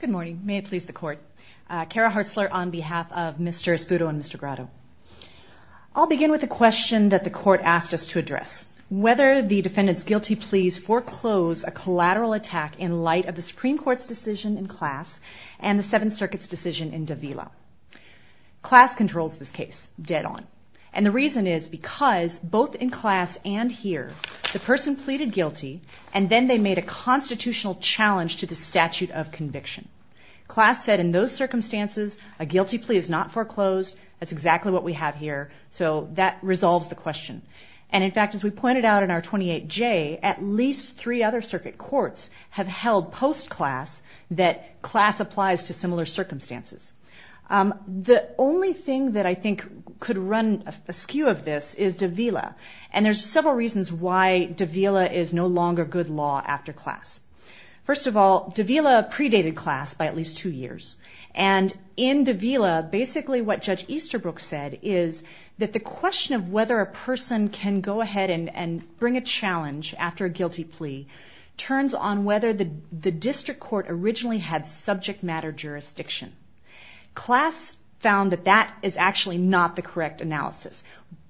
Good morning. May it please the court. Kara Hartzler on behalf of Mr. Espudo and Mr. Grotto. I'll begin with a question that the court asked us to address. Whether the defendant's guilty pleas foreclose a collateral attack in light of the Supreme Court's decision in class and the Seventh Circuit's decision in Davila. Class controls this case dead on. And the reason is because both in class and here the person pleaded guilty and then they made a constitutional challenge to the statute of conviction. Class said in those circumstances a guilty plea is not foreclosed. That's exactly what we have here. So that resolves the question. And in fact, as we pointed out in our 28J, at least three other circuit courts have held post-class that class applies to similar circumstances. The only thing that I think could run askew of this is Davila. And there's several reasons why Davila is no longer good law after class. First of all, Davila predated class by at least two years. And in Davila, basically what Judge Easterbrook said is that the question of whether a person can go ahead and bring a challenge after a guilty plea turns on whether the district court originally had subject matter jurisdiction. Class found that that is actually not the correct analysis.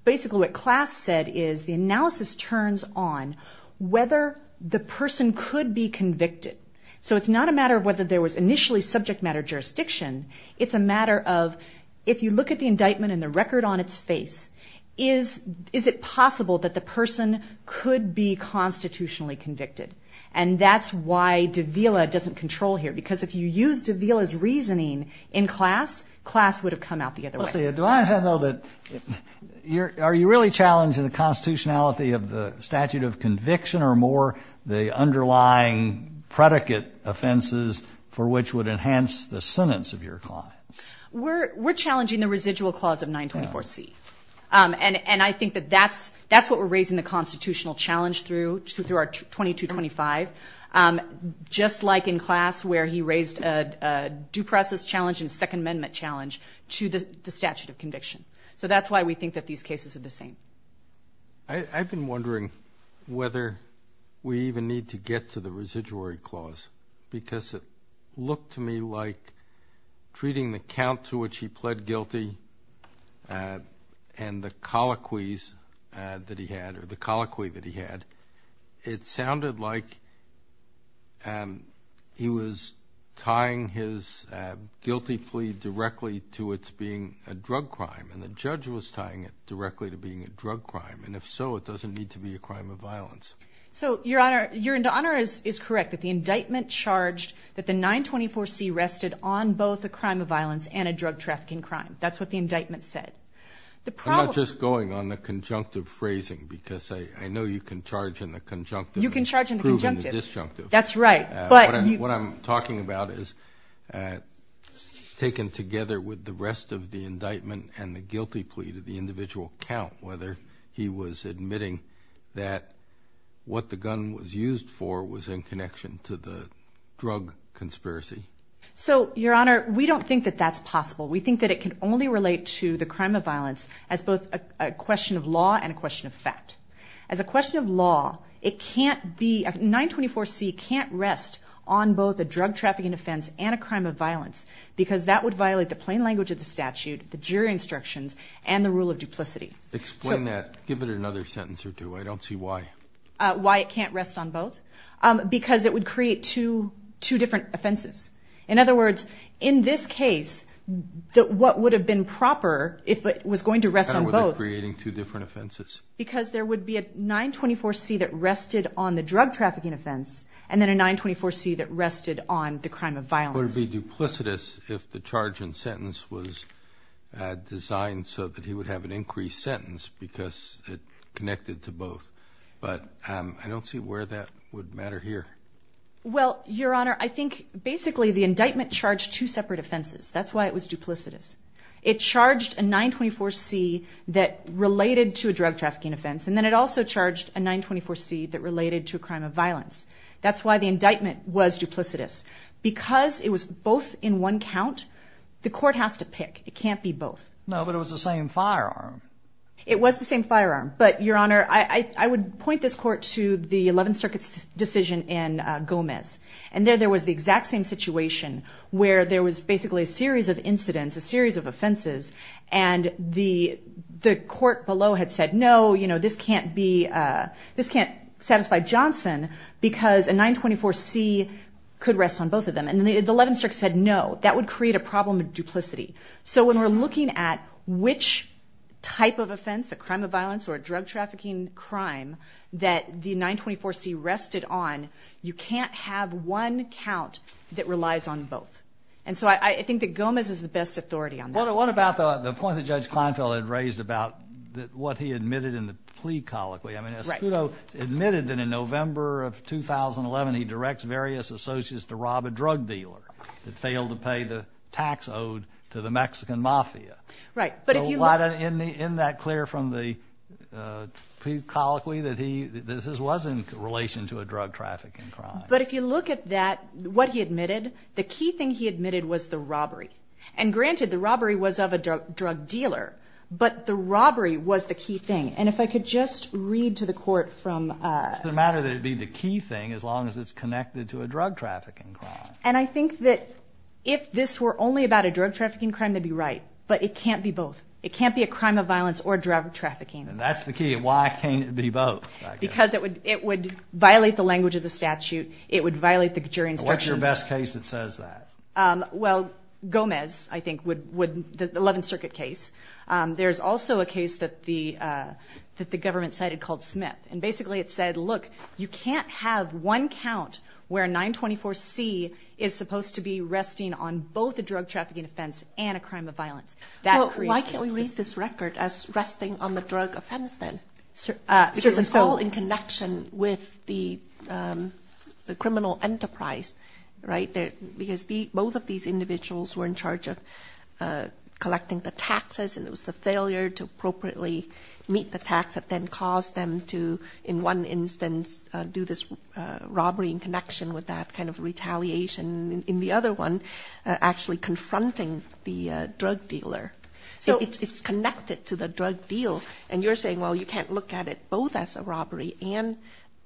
Basically what class said is the analysis turns on whether the person could be convicted. So it's not a matter of whether there was initially subject matter jurisdiction. It's a matter of if you look at the indictment and the record on its face, is it possible that the person could be constitutionally convicted? And that's why Davila doesn't control here. Because if you used Davila's reasoning in class, class would have come out the other way. Are you really challenging the constitutionality of the statute of conviction or more the underlying predicate offenses for which would enhance the sentence of your client? We're challenging the residual clause of 924C. And I think that that's what we're raising the constitutional challenge through, through our 2225. Just like in class where he raised a due process challenge and second amendment challenge to the statute of conviction. So that's why we think that these cases are the same. I've been wondering whether we even need to get to the residuary clause because it looked to me like treating the count to which he pled guilty and the colloquies that he had, or the colloquy that he had, it sounded like he was tying his guilty plea directly to its being a drug crime. And the judge was tying it directly to being a drug crime. And if so, it doesn't need to be a crime of violence. So Your Honor, Your Honor is correct that the indictment charged that the 924C rested on both a crime of violence and a drug trafficking crime. That's what the indictment said. I'm not just going on the conjunctive phrasing because I know you can charge in the conjunctive and prove in the disjunctive. That's right. What I'm talking about is taken together with the rest of the indictment and the guilty plea to the individual count, whether he was admitting that what the gun was used for was in connection to the drug conspiracy. So, Your Honor, we don't think that that's possible. We think that it can only relate to the crime of violence as both a question of law and a question of fact. As a question of law, it can't be, 924C can't rest on both a drug trafficking offense and a crime of violence because that would violate the plain language of the statute, the jury instructions, and the rule of duplicity. Explain that. Give it another sentence or two. I don't see why. Why it can't rest on both? Because it would create two different offenses. In other words, in this case, what would have been proper if it was going to rest on both? How were they creating two different offenses? Because there would be a 924C that rested on the drug trafficking offense and then a 924C that rested on the crime of violence. Would it be duplicitous if the charge and sentence was designed so that he would have an increased sentence because it connected to both? But I don't see where that would matter here. Well, Your Honor, I think basically the indictment charged two separate offenses. That's why it was duplicitous. It charged a 924C that related to a drug trafficking offense, and then it also charged a 924C that related to a crime of violence. That's why the indictment was duplicitous. Because it was both in one count, the court has to pick. It can't be both. No, but it was the same firearm. It was the same firearm. But, Your Honor, I would point this court to the Eleventh Circuit's decision in Gomez. And there was the exact same situation where there was basically a series of incidents, a series of offenses, and the court below had said, no, this can't satisfy Johnson because a 924C could rest on both of them. And the Eleventh Circuit said no. That would create a problem of duplicity. So when we're looking at which type of offense, a crime of violence or a drug trafficking crime, that the 924C rested on, you can't have one count that relies on both. And so I think that Gomez is the best authority on that. What about the point that Judge Kleinfeld had raised about what he admitted in the plea colloquy? I mean, Escudo admitted that in November of 2011 he directs various associates to rob a drug dealer that failed to pay the tax owed to the Mexican mafia. Right. In that clear from the plea colloquy that this was in relation to a drug trafficking crime. But if you look at that, what he admitted, the key thing he admitted was the robbery. And, granted, the robbery was of a drug dealer, but the robbery was the key thing. And if I could just read to the court from the matter that it would be the key thing as long as it's connected to a drug trafficking crime. And I think that if this were only about a drug trafficking crime, they'd be right. But it can't be both. It can't be a crime of violence or drug trafficking. And that's the key. Why can't it be both? Because it would violate the language of the statute. It would violate the jury instructions. What's your best case that says that? Well, Gomez, I think, would, the 11th Circuit case. There's also a case that the government cited called Smith. And, basically, it said, look, you can't have one count where 924C is supposed to be resting on both a drug trafficking offense and a crime of violence. Well, why can't we read this record as resting on the drug offense, then? Because it's all in connection with the criminal enterprise, right? Because both of these individuals were in charge of collecting the taxes, and it was the failure to appropriately meet the tax that then caused them to, in one instance, do this robbery in connection with that kind of retaliation. In the other one, actually confronting the drug dealer. So it's connected to the drug deal. And you're saying, well, you can't look at it both as a robbery and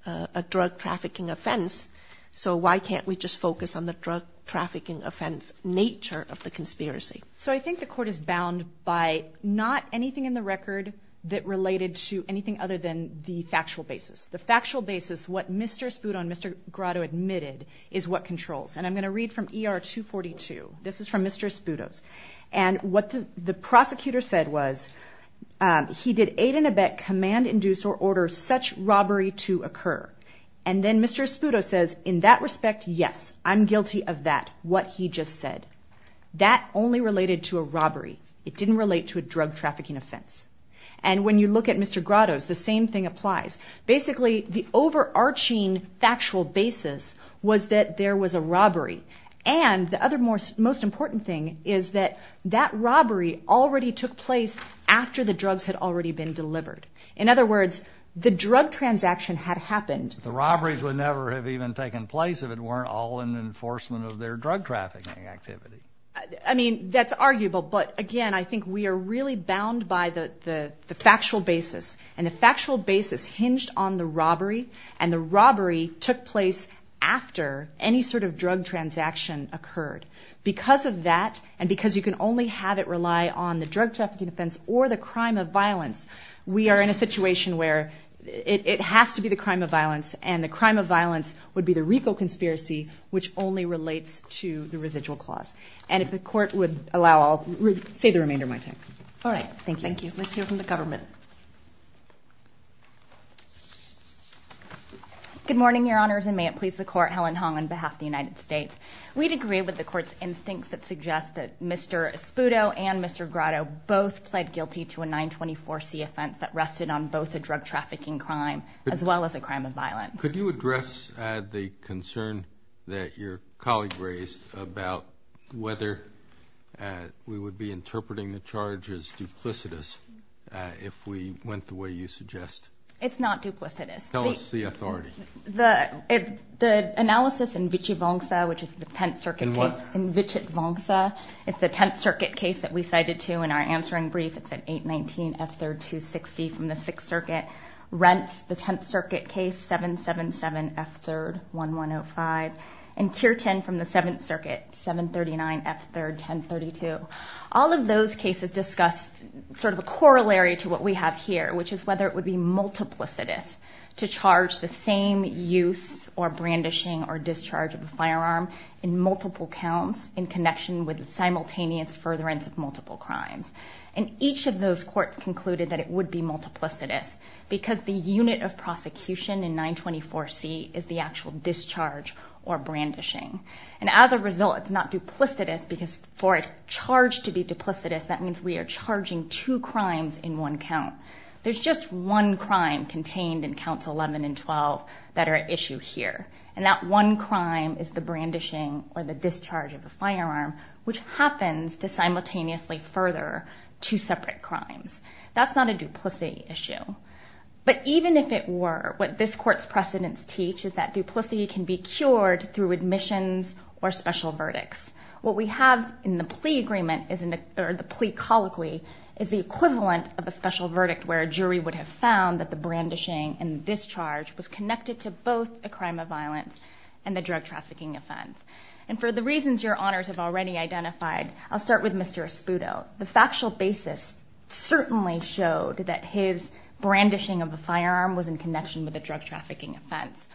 a drug trafficking offense. So why can't we just focus on the drug trafficking offense nature of the conspiracy? So I think the court is bound by not anything in the record that related to anything other than the factual basis. The factual basis, what Mr. Espudo and Mr. Grotto admitted, is what controls. And I'm going to read from ER 242. This is from Mr. Espudo's. And what the prosecutor said was, he did aid and abet, command, induce, or order such robbery to occur. And then Mr. Espudo says, in that respect, yes, I'm guilty of that, what he just said. That only related to a robbery. It didn't relate to a drug trafficking offense. And when you look at Mr. Grotto's, the same thing applies. Basically, the overarching factual basis was that there was a robbery. And the other most important thing is that that robbery already took place after the drugs had already been delivered. In other words, the drug transaction had happened. The robberies would never have even taken place if it weren't all in enforcement of their drug trafficking activity. I mean, that's arguable. But, again, I think we are really bound by the factual basis. And the factual basis hinged on the robbery, and the robbery took place after any sort of drug transaction occurred. Because of that, and because you can only have it rely on the drug trafficking offense or the crime of violence, we are in a situation where it has to be the crime of violence, and the crime of violence would be the RICO conspiracy, which only relates to the residual clause. And if the Court would allow, I'll save the remainder of my time. All right. Thank you. Thank you. Let's hear from the government. Good morning, Your Honors, and may it please the Court, Helen Hong on behalf of the United States. We'd agree with the Court's instincts that suggest that Mr. Espudo and Mr. Grotto both pled guilty to a 924C offense that rested on both a drug trafficking crime as well as a crime of violence. Could you address the concern that your colleague raised about whether we would be interpreting the charge as duplicitous if we went the way you suggest? It's not duplicitous. Tell us the authority. The analysis in Vichy-Vongsa, which is the Tenth Circuit case. In what? In Vichy-Vongsa. It's the Tenth Circuit case that we cited to in our answering brief. It's an 819F3-260 from the Sixth Circuit. Rents, the Tenth Circuit case, 777F3-1105. And tier 10 from the Seventh Circuit, 739F3-1032. All of those cases discuss sort of a corollary to what we have here, which is whether it would be multiplicitous to charge the same use or brandishing or discharge of a firearm in multiple counts in connection with the simultaneous furtherance of multiple crimes. And each of those courts concluded that it would be multiplicitous because the unit of prosecution in 924C is the actual discharge or brandishing. And as a result, it's not duplicitous because for a charge to be duplicitous, that means we are charging two crimes in one count. There's just one crime contained in counts 11 and 12 that are at issue here. And that one crime is the brandishing or the discharge of a firearm, which happens to simultaneously further two separate crimes. That's not a duplicity issue. But even if it were, what this court's precedents teach is that duplicity can be cured through admissions or special verdicts. What we have in the plea agreement or the plea colloquy is the equivalent of a special verdict where a jury would have found that the brandishing and discharge was connected to both a crime of violence and a drug trafficking offense. And for the reasons your honors have already identified, I'll start with Mr. Espudo. The factual basis certainly showed that his brandishing of a firearm was in connection with a drug trafficking offense.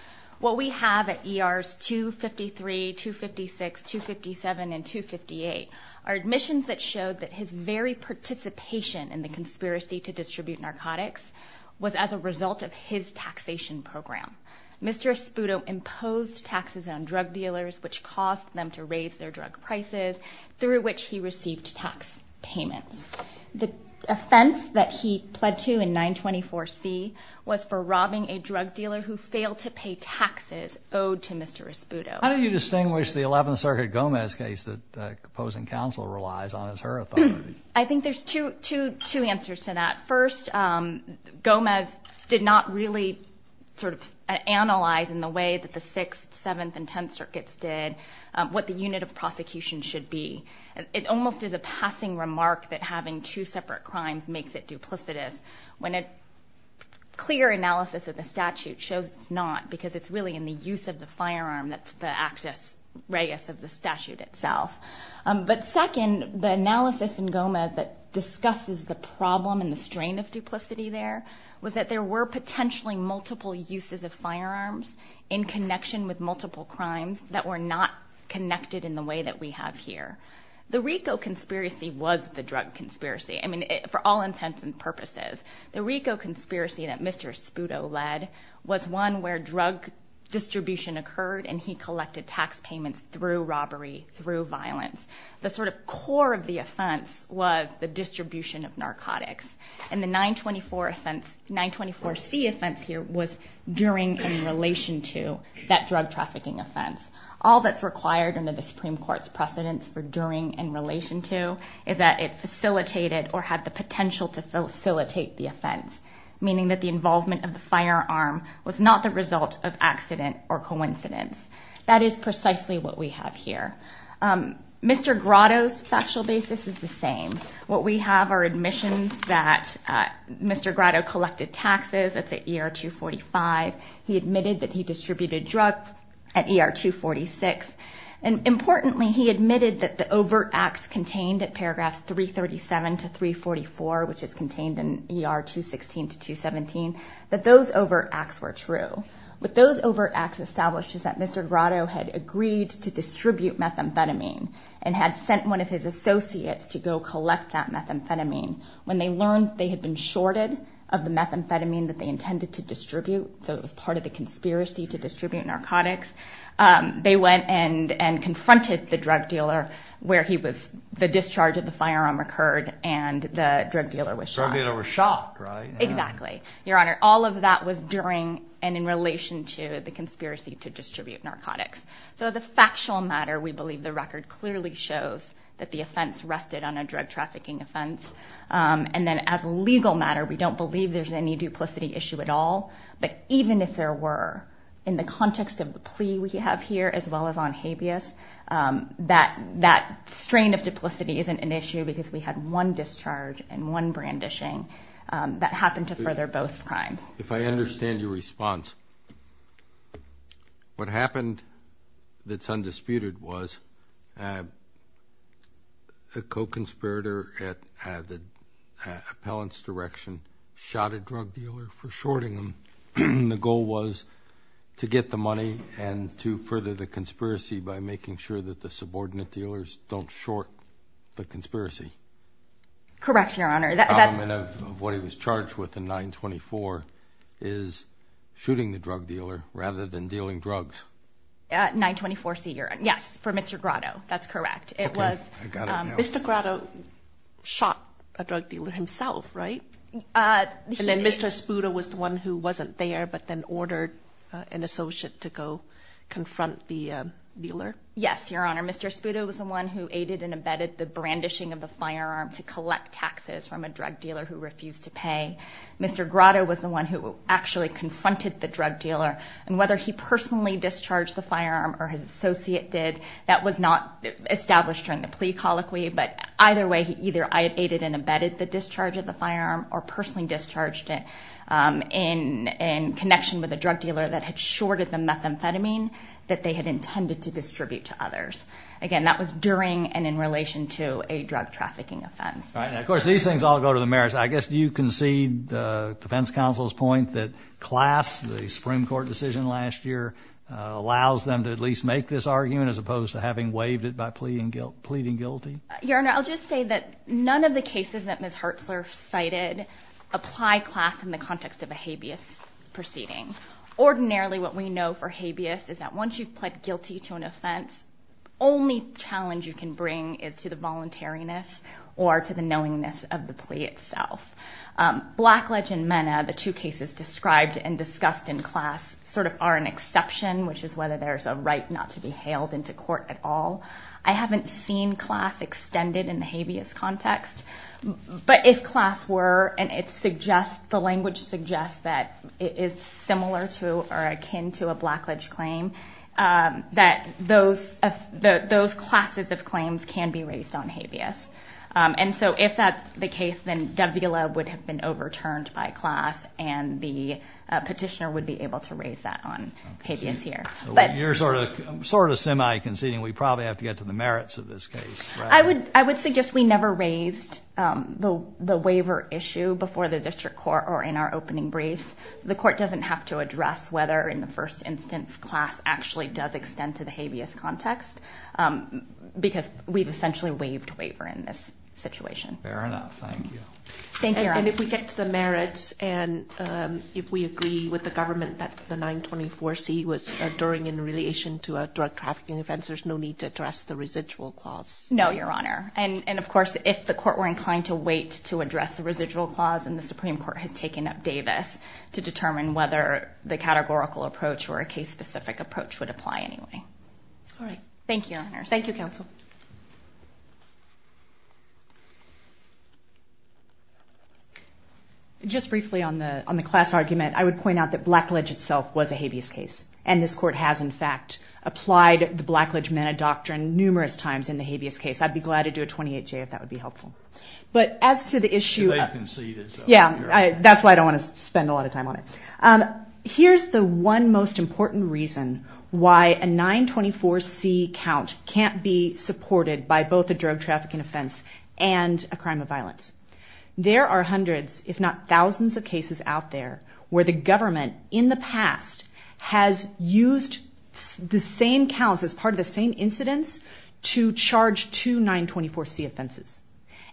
What we have at ERs 253, 256, 257, and 258 are admissions that showed that his very participation in the conspiracy to distribute narcotics was as a result of his taxation program. Mr. Espudo imposed taxes on drug dealers, which caused them to raise their drug prices, through which he received tax payments. The offense that he pled to in 924C was for robbing a drug dealer who failed to pay taxes owed to Mr. Espudo. How do you distinguish the 11th Circuit Gomez case that opposing counsel relies on as her authority? I think there's two answers to that. First, Gomez did not really sort of analyze in the way that the 6th, 7th, and 10th Circuits did what the unit of prosecution should be. It almost is a passing remark that having two separate crimes makes it duplicitous, when a clear analysis of the statute shows it's not because it's really in the use of the firearm that's the actus reus of the statute itself. But second, the analysis in Gomez that discusses the problem and the strain of duplicity there was that there were potentially multiple uses of firearms in connection with multiple crimes that were not connected in the way that we have here. The RICO conspiracy was the drug conspiracy, I mean, for all intents and purposes. The RICO conspiracy that Mr. Espudo led was one where drug distribution occurred and he collected tax payments through robbery, through violence. The sort of core of the offense was the distribution of narcotics. And the 924C offense here was during and in relation to that drug trafficking offense. All that's required under the Supreme Court's precedence for during and in relation to is that it facilitated or had the potential to facilitate the offense, meaning that the involvement of the firearm was not the result of accident or coincidence. That is precisely what we have here. Mr. Grotto's factual basis is the same. What we have are admissions that Mr. Grotto collected taxes. That's at ER 245. He admitted that he distributed drugs at ER 246. And importantly, he admitted that the overt acts contained at paragraphs 337 to 344, which is contained in ER 216 to 217, that those overt acts were true. What those overt acts established is that Mr. Grotto had agreed to distribute methamphetamine and had sent one of his associates to go collect that methamphetamine. When they learned they had been shorted of the methamphetamine that they intended to distribute, so it was part of the conspiracy to distribute narcotics, they went and confronted the drug dealer where the discharge of the firearm occurred and the drug dealer was shot. The drug dealer was shot, right? Exactly. Your Honor, all of that was during and in relation to the conspiracy to distribute narcotics. So as a factual matter, we believe the record clearly shows that the offense rested on a drug trafficking offense. And then as a legal matter, we don't believe there's any duplicity issue at all. But even if there were, in the context of the plea we have here as well as on habeas, that strain of duplicity isn't an issue because we had one discharge and one brandishing that happened to further both crimes. If I understand your response, what happened that's undisputed was a co-conspirator at the appellant's direction shot a drug dealer for shorting him. The goal was to get the money and to further the conspiracy by making sure that the subordinate dealers don't short the conspiracy. Correct, Your Honor. The problem of what he was charged with in 924 is shooting the drug dealer rather than dealing drugs. 924-C, yes, for Mr. Grotto. That's correct. Okay, I got it now. Mr. Grotto shot a drug dealer himself, right? And then Mr. Spuda was the one who wasn't there but then ordered an associate to go confront the dealer? Yes, Your Honor. Mr. Spuda was the one who aided and abetted the brandishing of the firearm to collect taxes from a drug dealer who refused to pay. Mr. Grotto was the one who actually confronted the drug dealer, and whether he personally discharged the firearm or his associate did, that was not established during the plea colloquy, but either way either I had aided and abetted the discharge of the firearm or personally discharged it in connection with a drug dealer that had shorted the methamphetamine that they had intended to distribute to others. Again, that was during and in relation to a drug trafficking offense. Of course, these things all go to the mayors. I guess you concede the defense counsel's point that class, the Supreme Court decision last year, allows them to at least make this argument as opposed to having waived it by pleading guilty? Your Honor, I'll just say that none of the cases that Ms. Hertzler cited apply class in the context of a habeas proceeding. Ordinarily what we know for habeas is that once you've pled guilty to an offense, the only challenge you can bring is to the voluntariness or to the knowingness of the plea itself. Blackledge and MENA, the two cases described and discussed in class, sort of are an exception, which is whether there's a right not to be hailed into court at all. I haven't seen class extended in the habeas context, but if class were and the language suggests that it is similar to or akin to a blackledge claim, that those classes of claims can be raised on habeas. And so if that's the case, then WLA would have been overturned by class and the petitioner would be able to raise that on habeas here. You're sort of semi-conceding we probably have to get to the merits of this case. I would suggest we never raised the waiver issue before the district court or in our opening briefs. The court doesn't have to address whether in the first instance class actually does extend to the habeas context because we've essentially waived waiver in this situation. Fair enough. Thank you. And if we get to the merits and if we agree with the government that the 924C was no need to address the residual clause? No, Your Honor. And of course, if the court were inclined to wait to address the residual clause and the Supreme Court has taken up Davis to determine whether the categorical approach or a case-specific approach would apply anyway. All right. Thank you, Your Honor. Thank you, Counsel. Just briefly on the class argument, I would point out that blackledge itself was a habeas case. And this court has, in fact, applied the blackledge-mena doctrine numerous times in the habeas case. I'd be glad to do a 28-J if that would be helpful. But as to the issue of- They conceded. Yeah. That's why I don't want to spend a lot of time on it. Here's the one most important reason why a 924C count can't be supported by both a drug trafficking offense and a crime of violence. There are hundreds if not thousands of cases out there where the government in the past has used the same counts as part of the same incidents to charge two 924C offenses.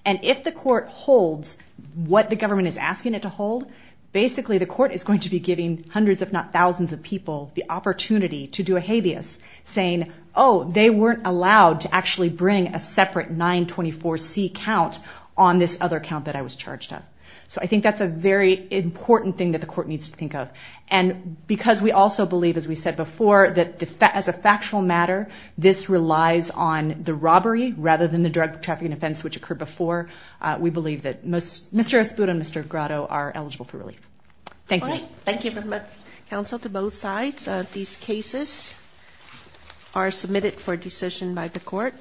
And if the court holds what the government is asking it to hold, basically the court is going to be giving hundreds if not thousands of people the opportunity to do a habeas, saying, oh, they weren't allowed to actually bring a separate 924C count on this other count that I was charged of. So I think that's a very important thing that the court needs to think of. And because we also believe, as we said before, that as a factual matter, this relies on the robbery rather than the drug trafficking offense, which occurred before, we believe that Mr. Espudo and Mr. Grotto are eligible for relief. Thank you. Thank you very much, counsel, to both sides. These cases are submitted for decision by the court.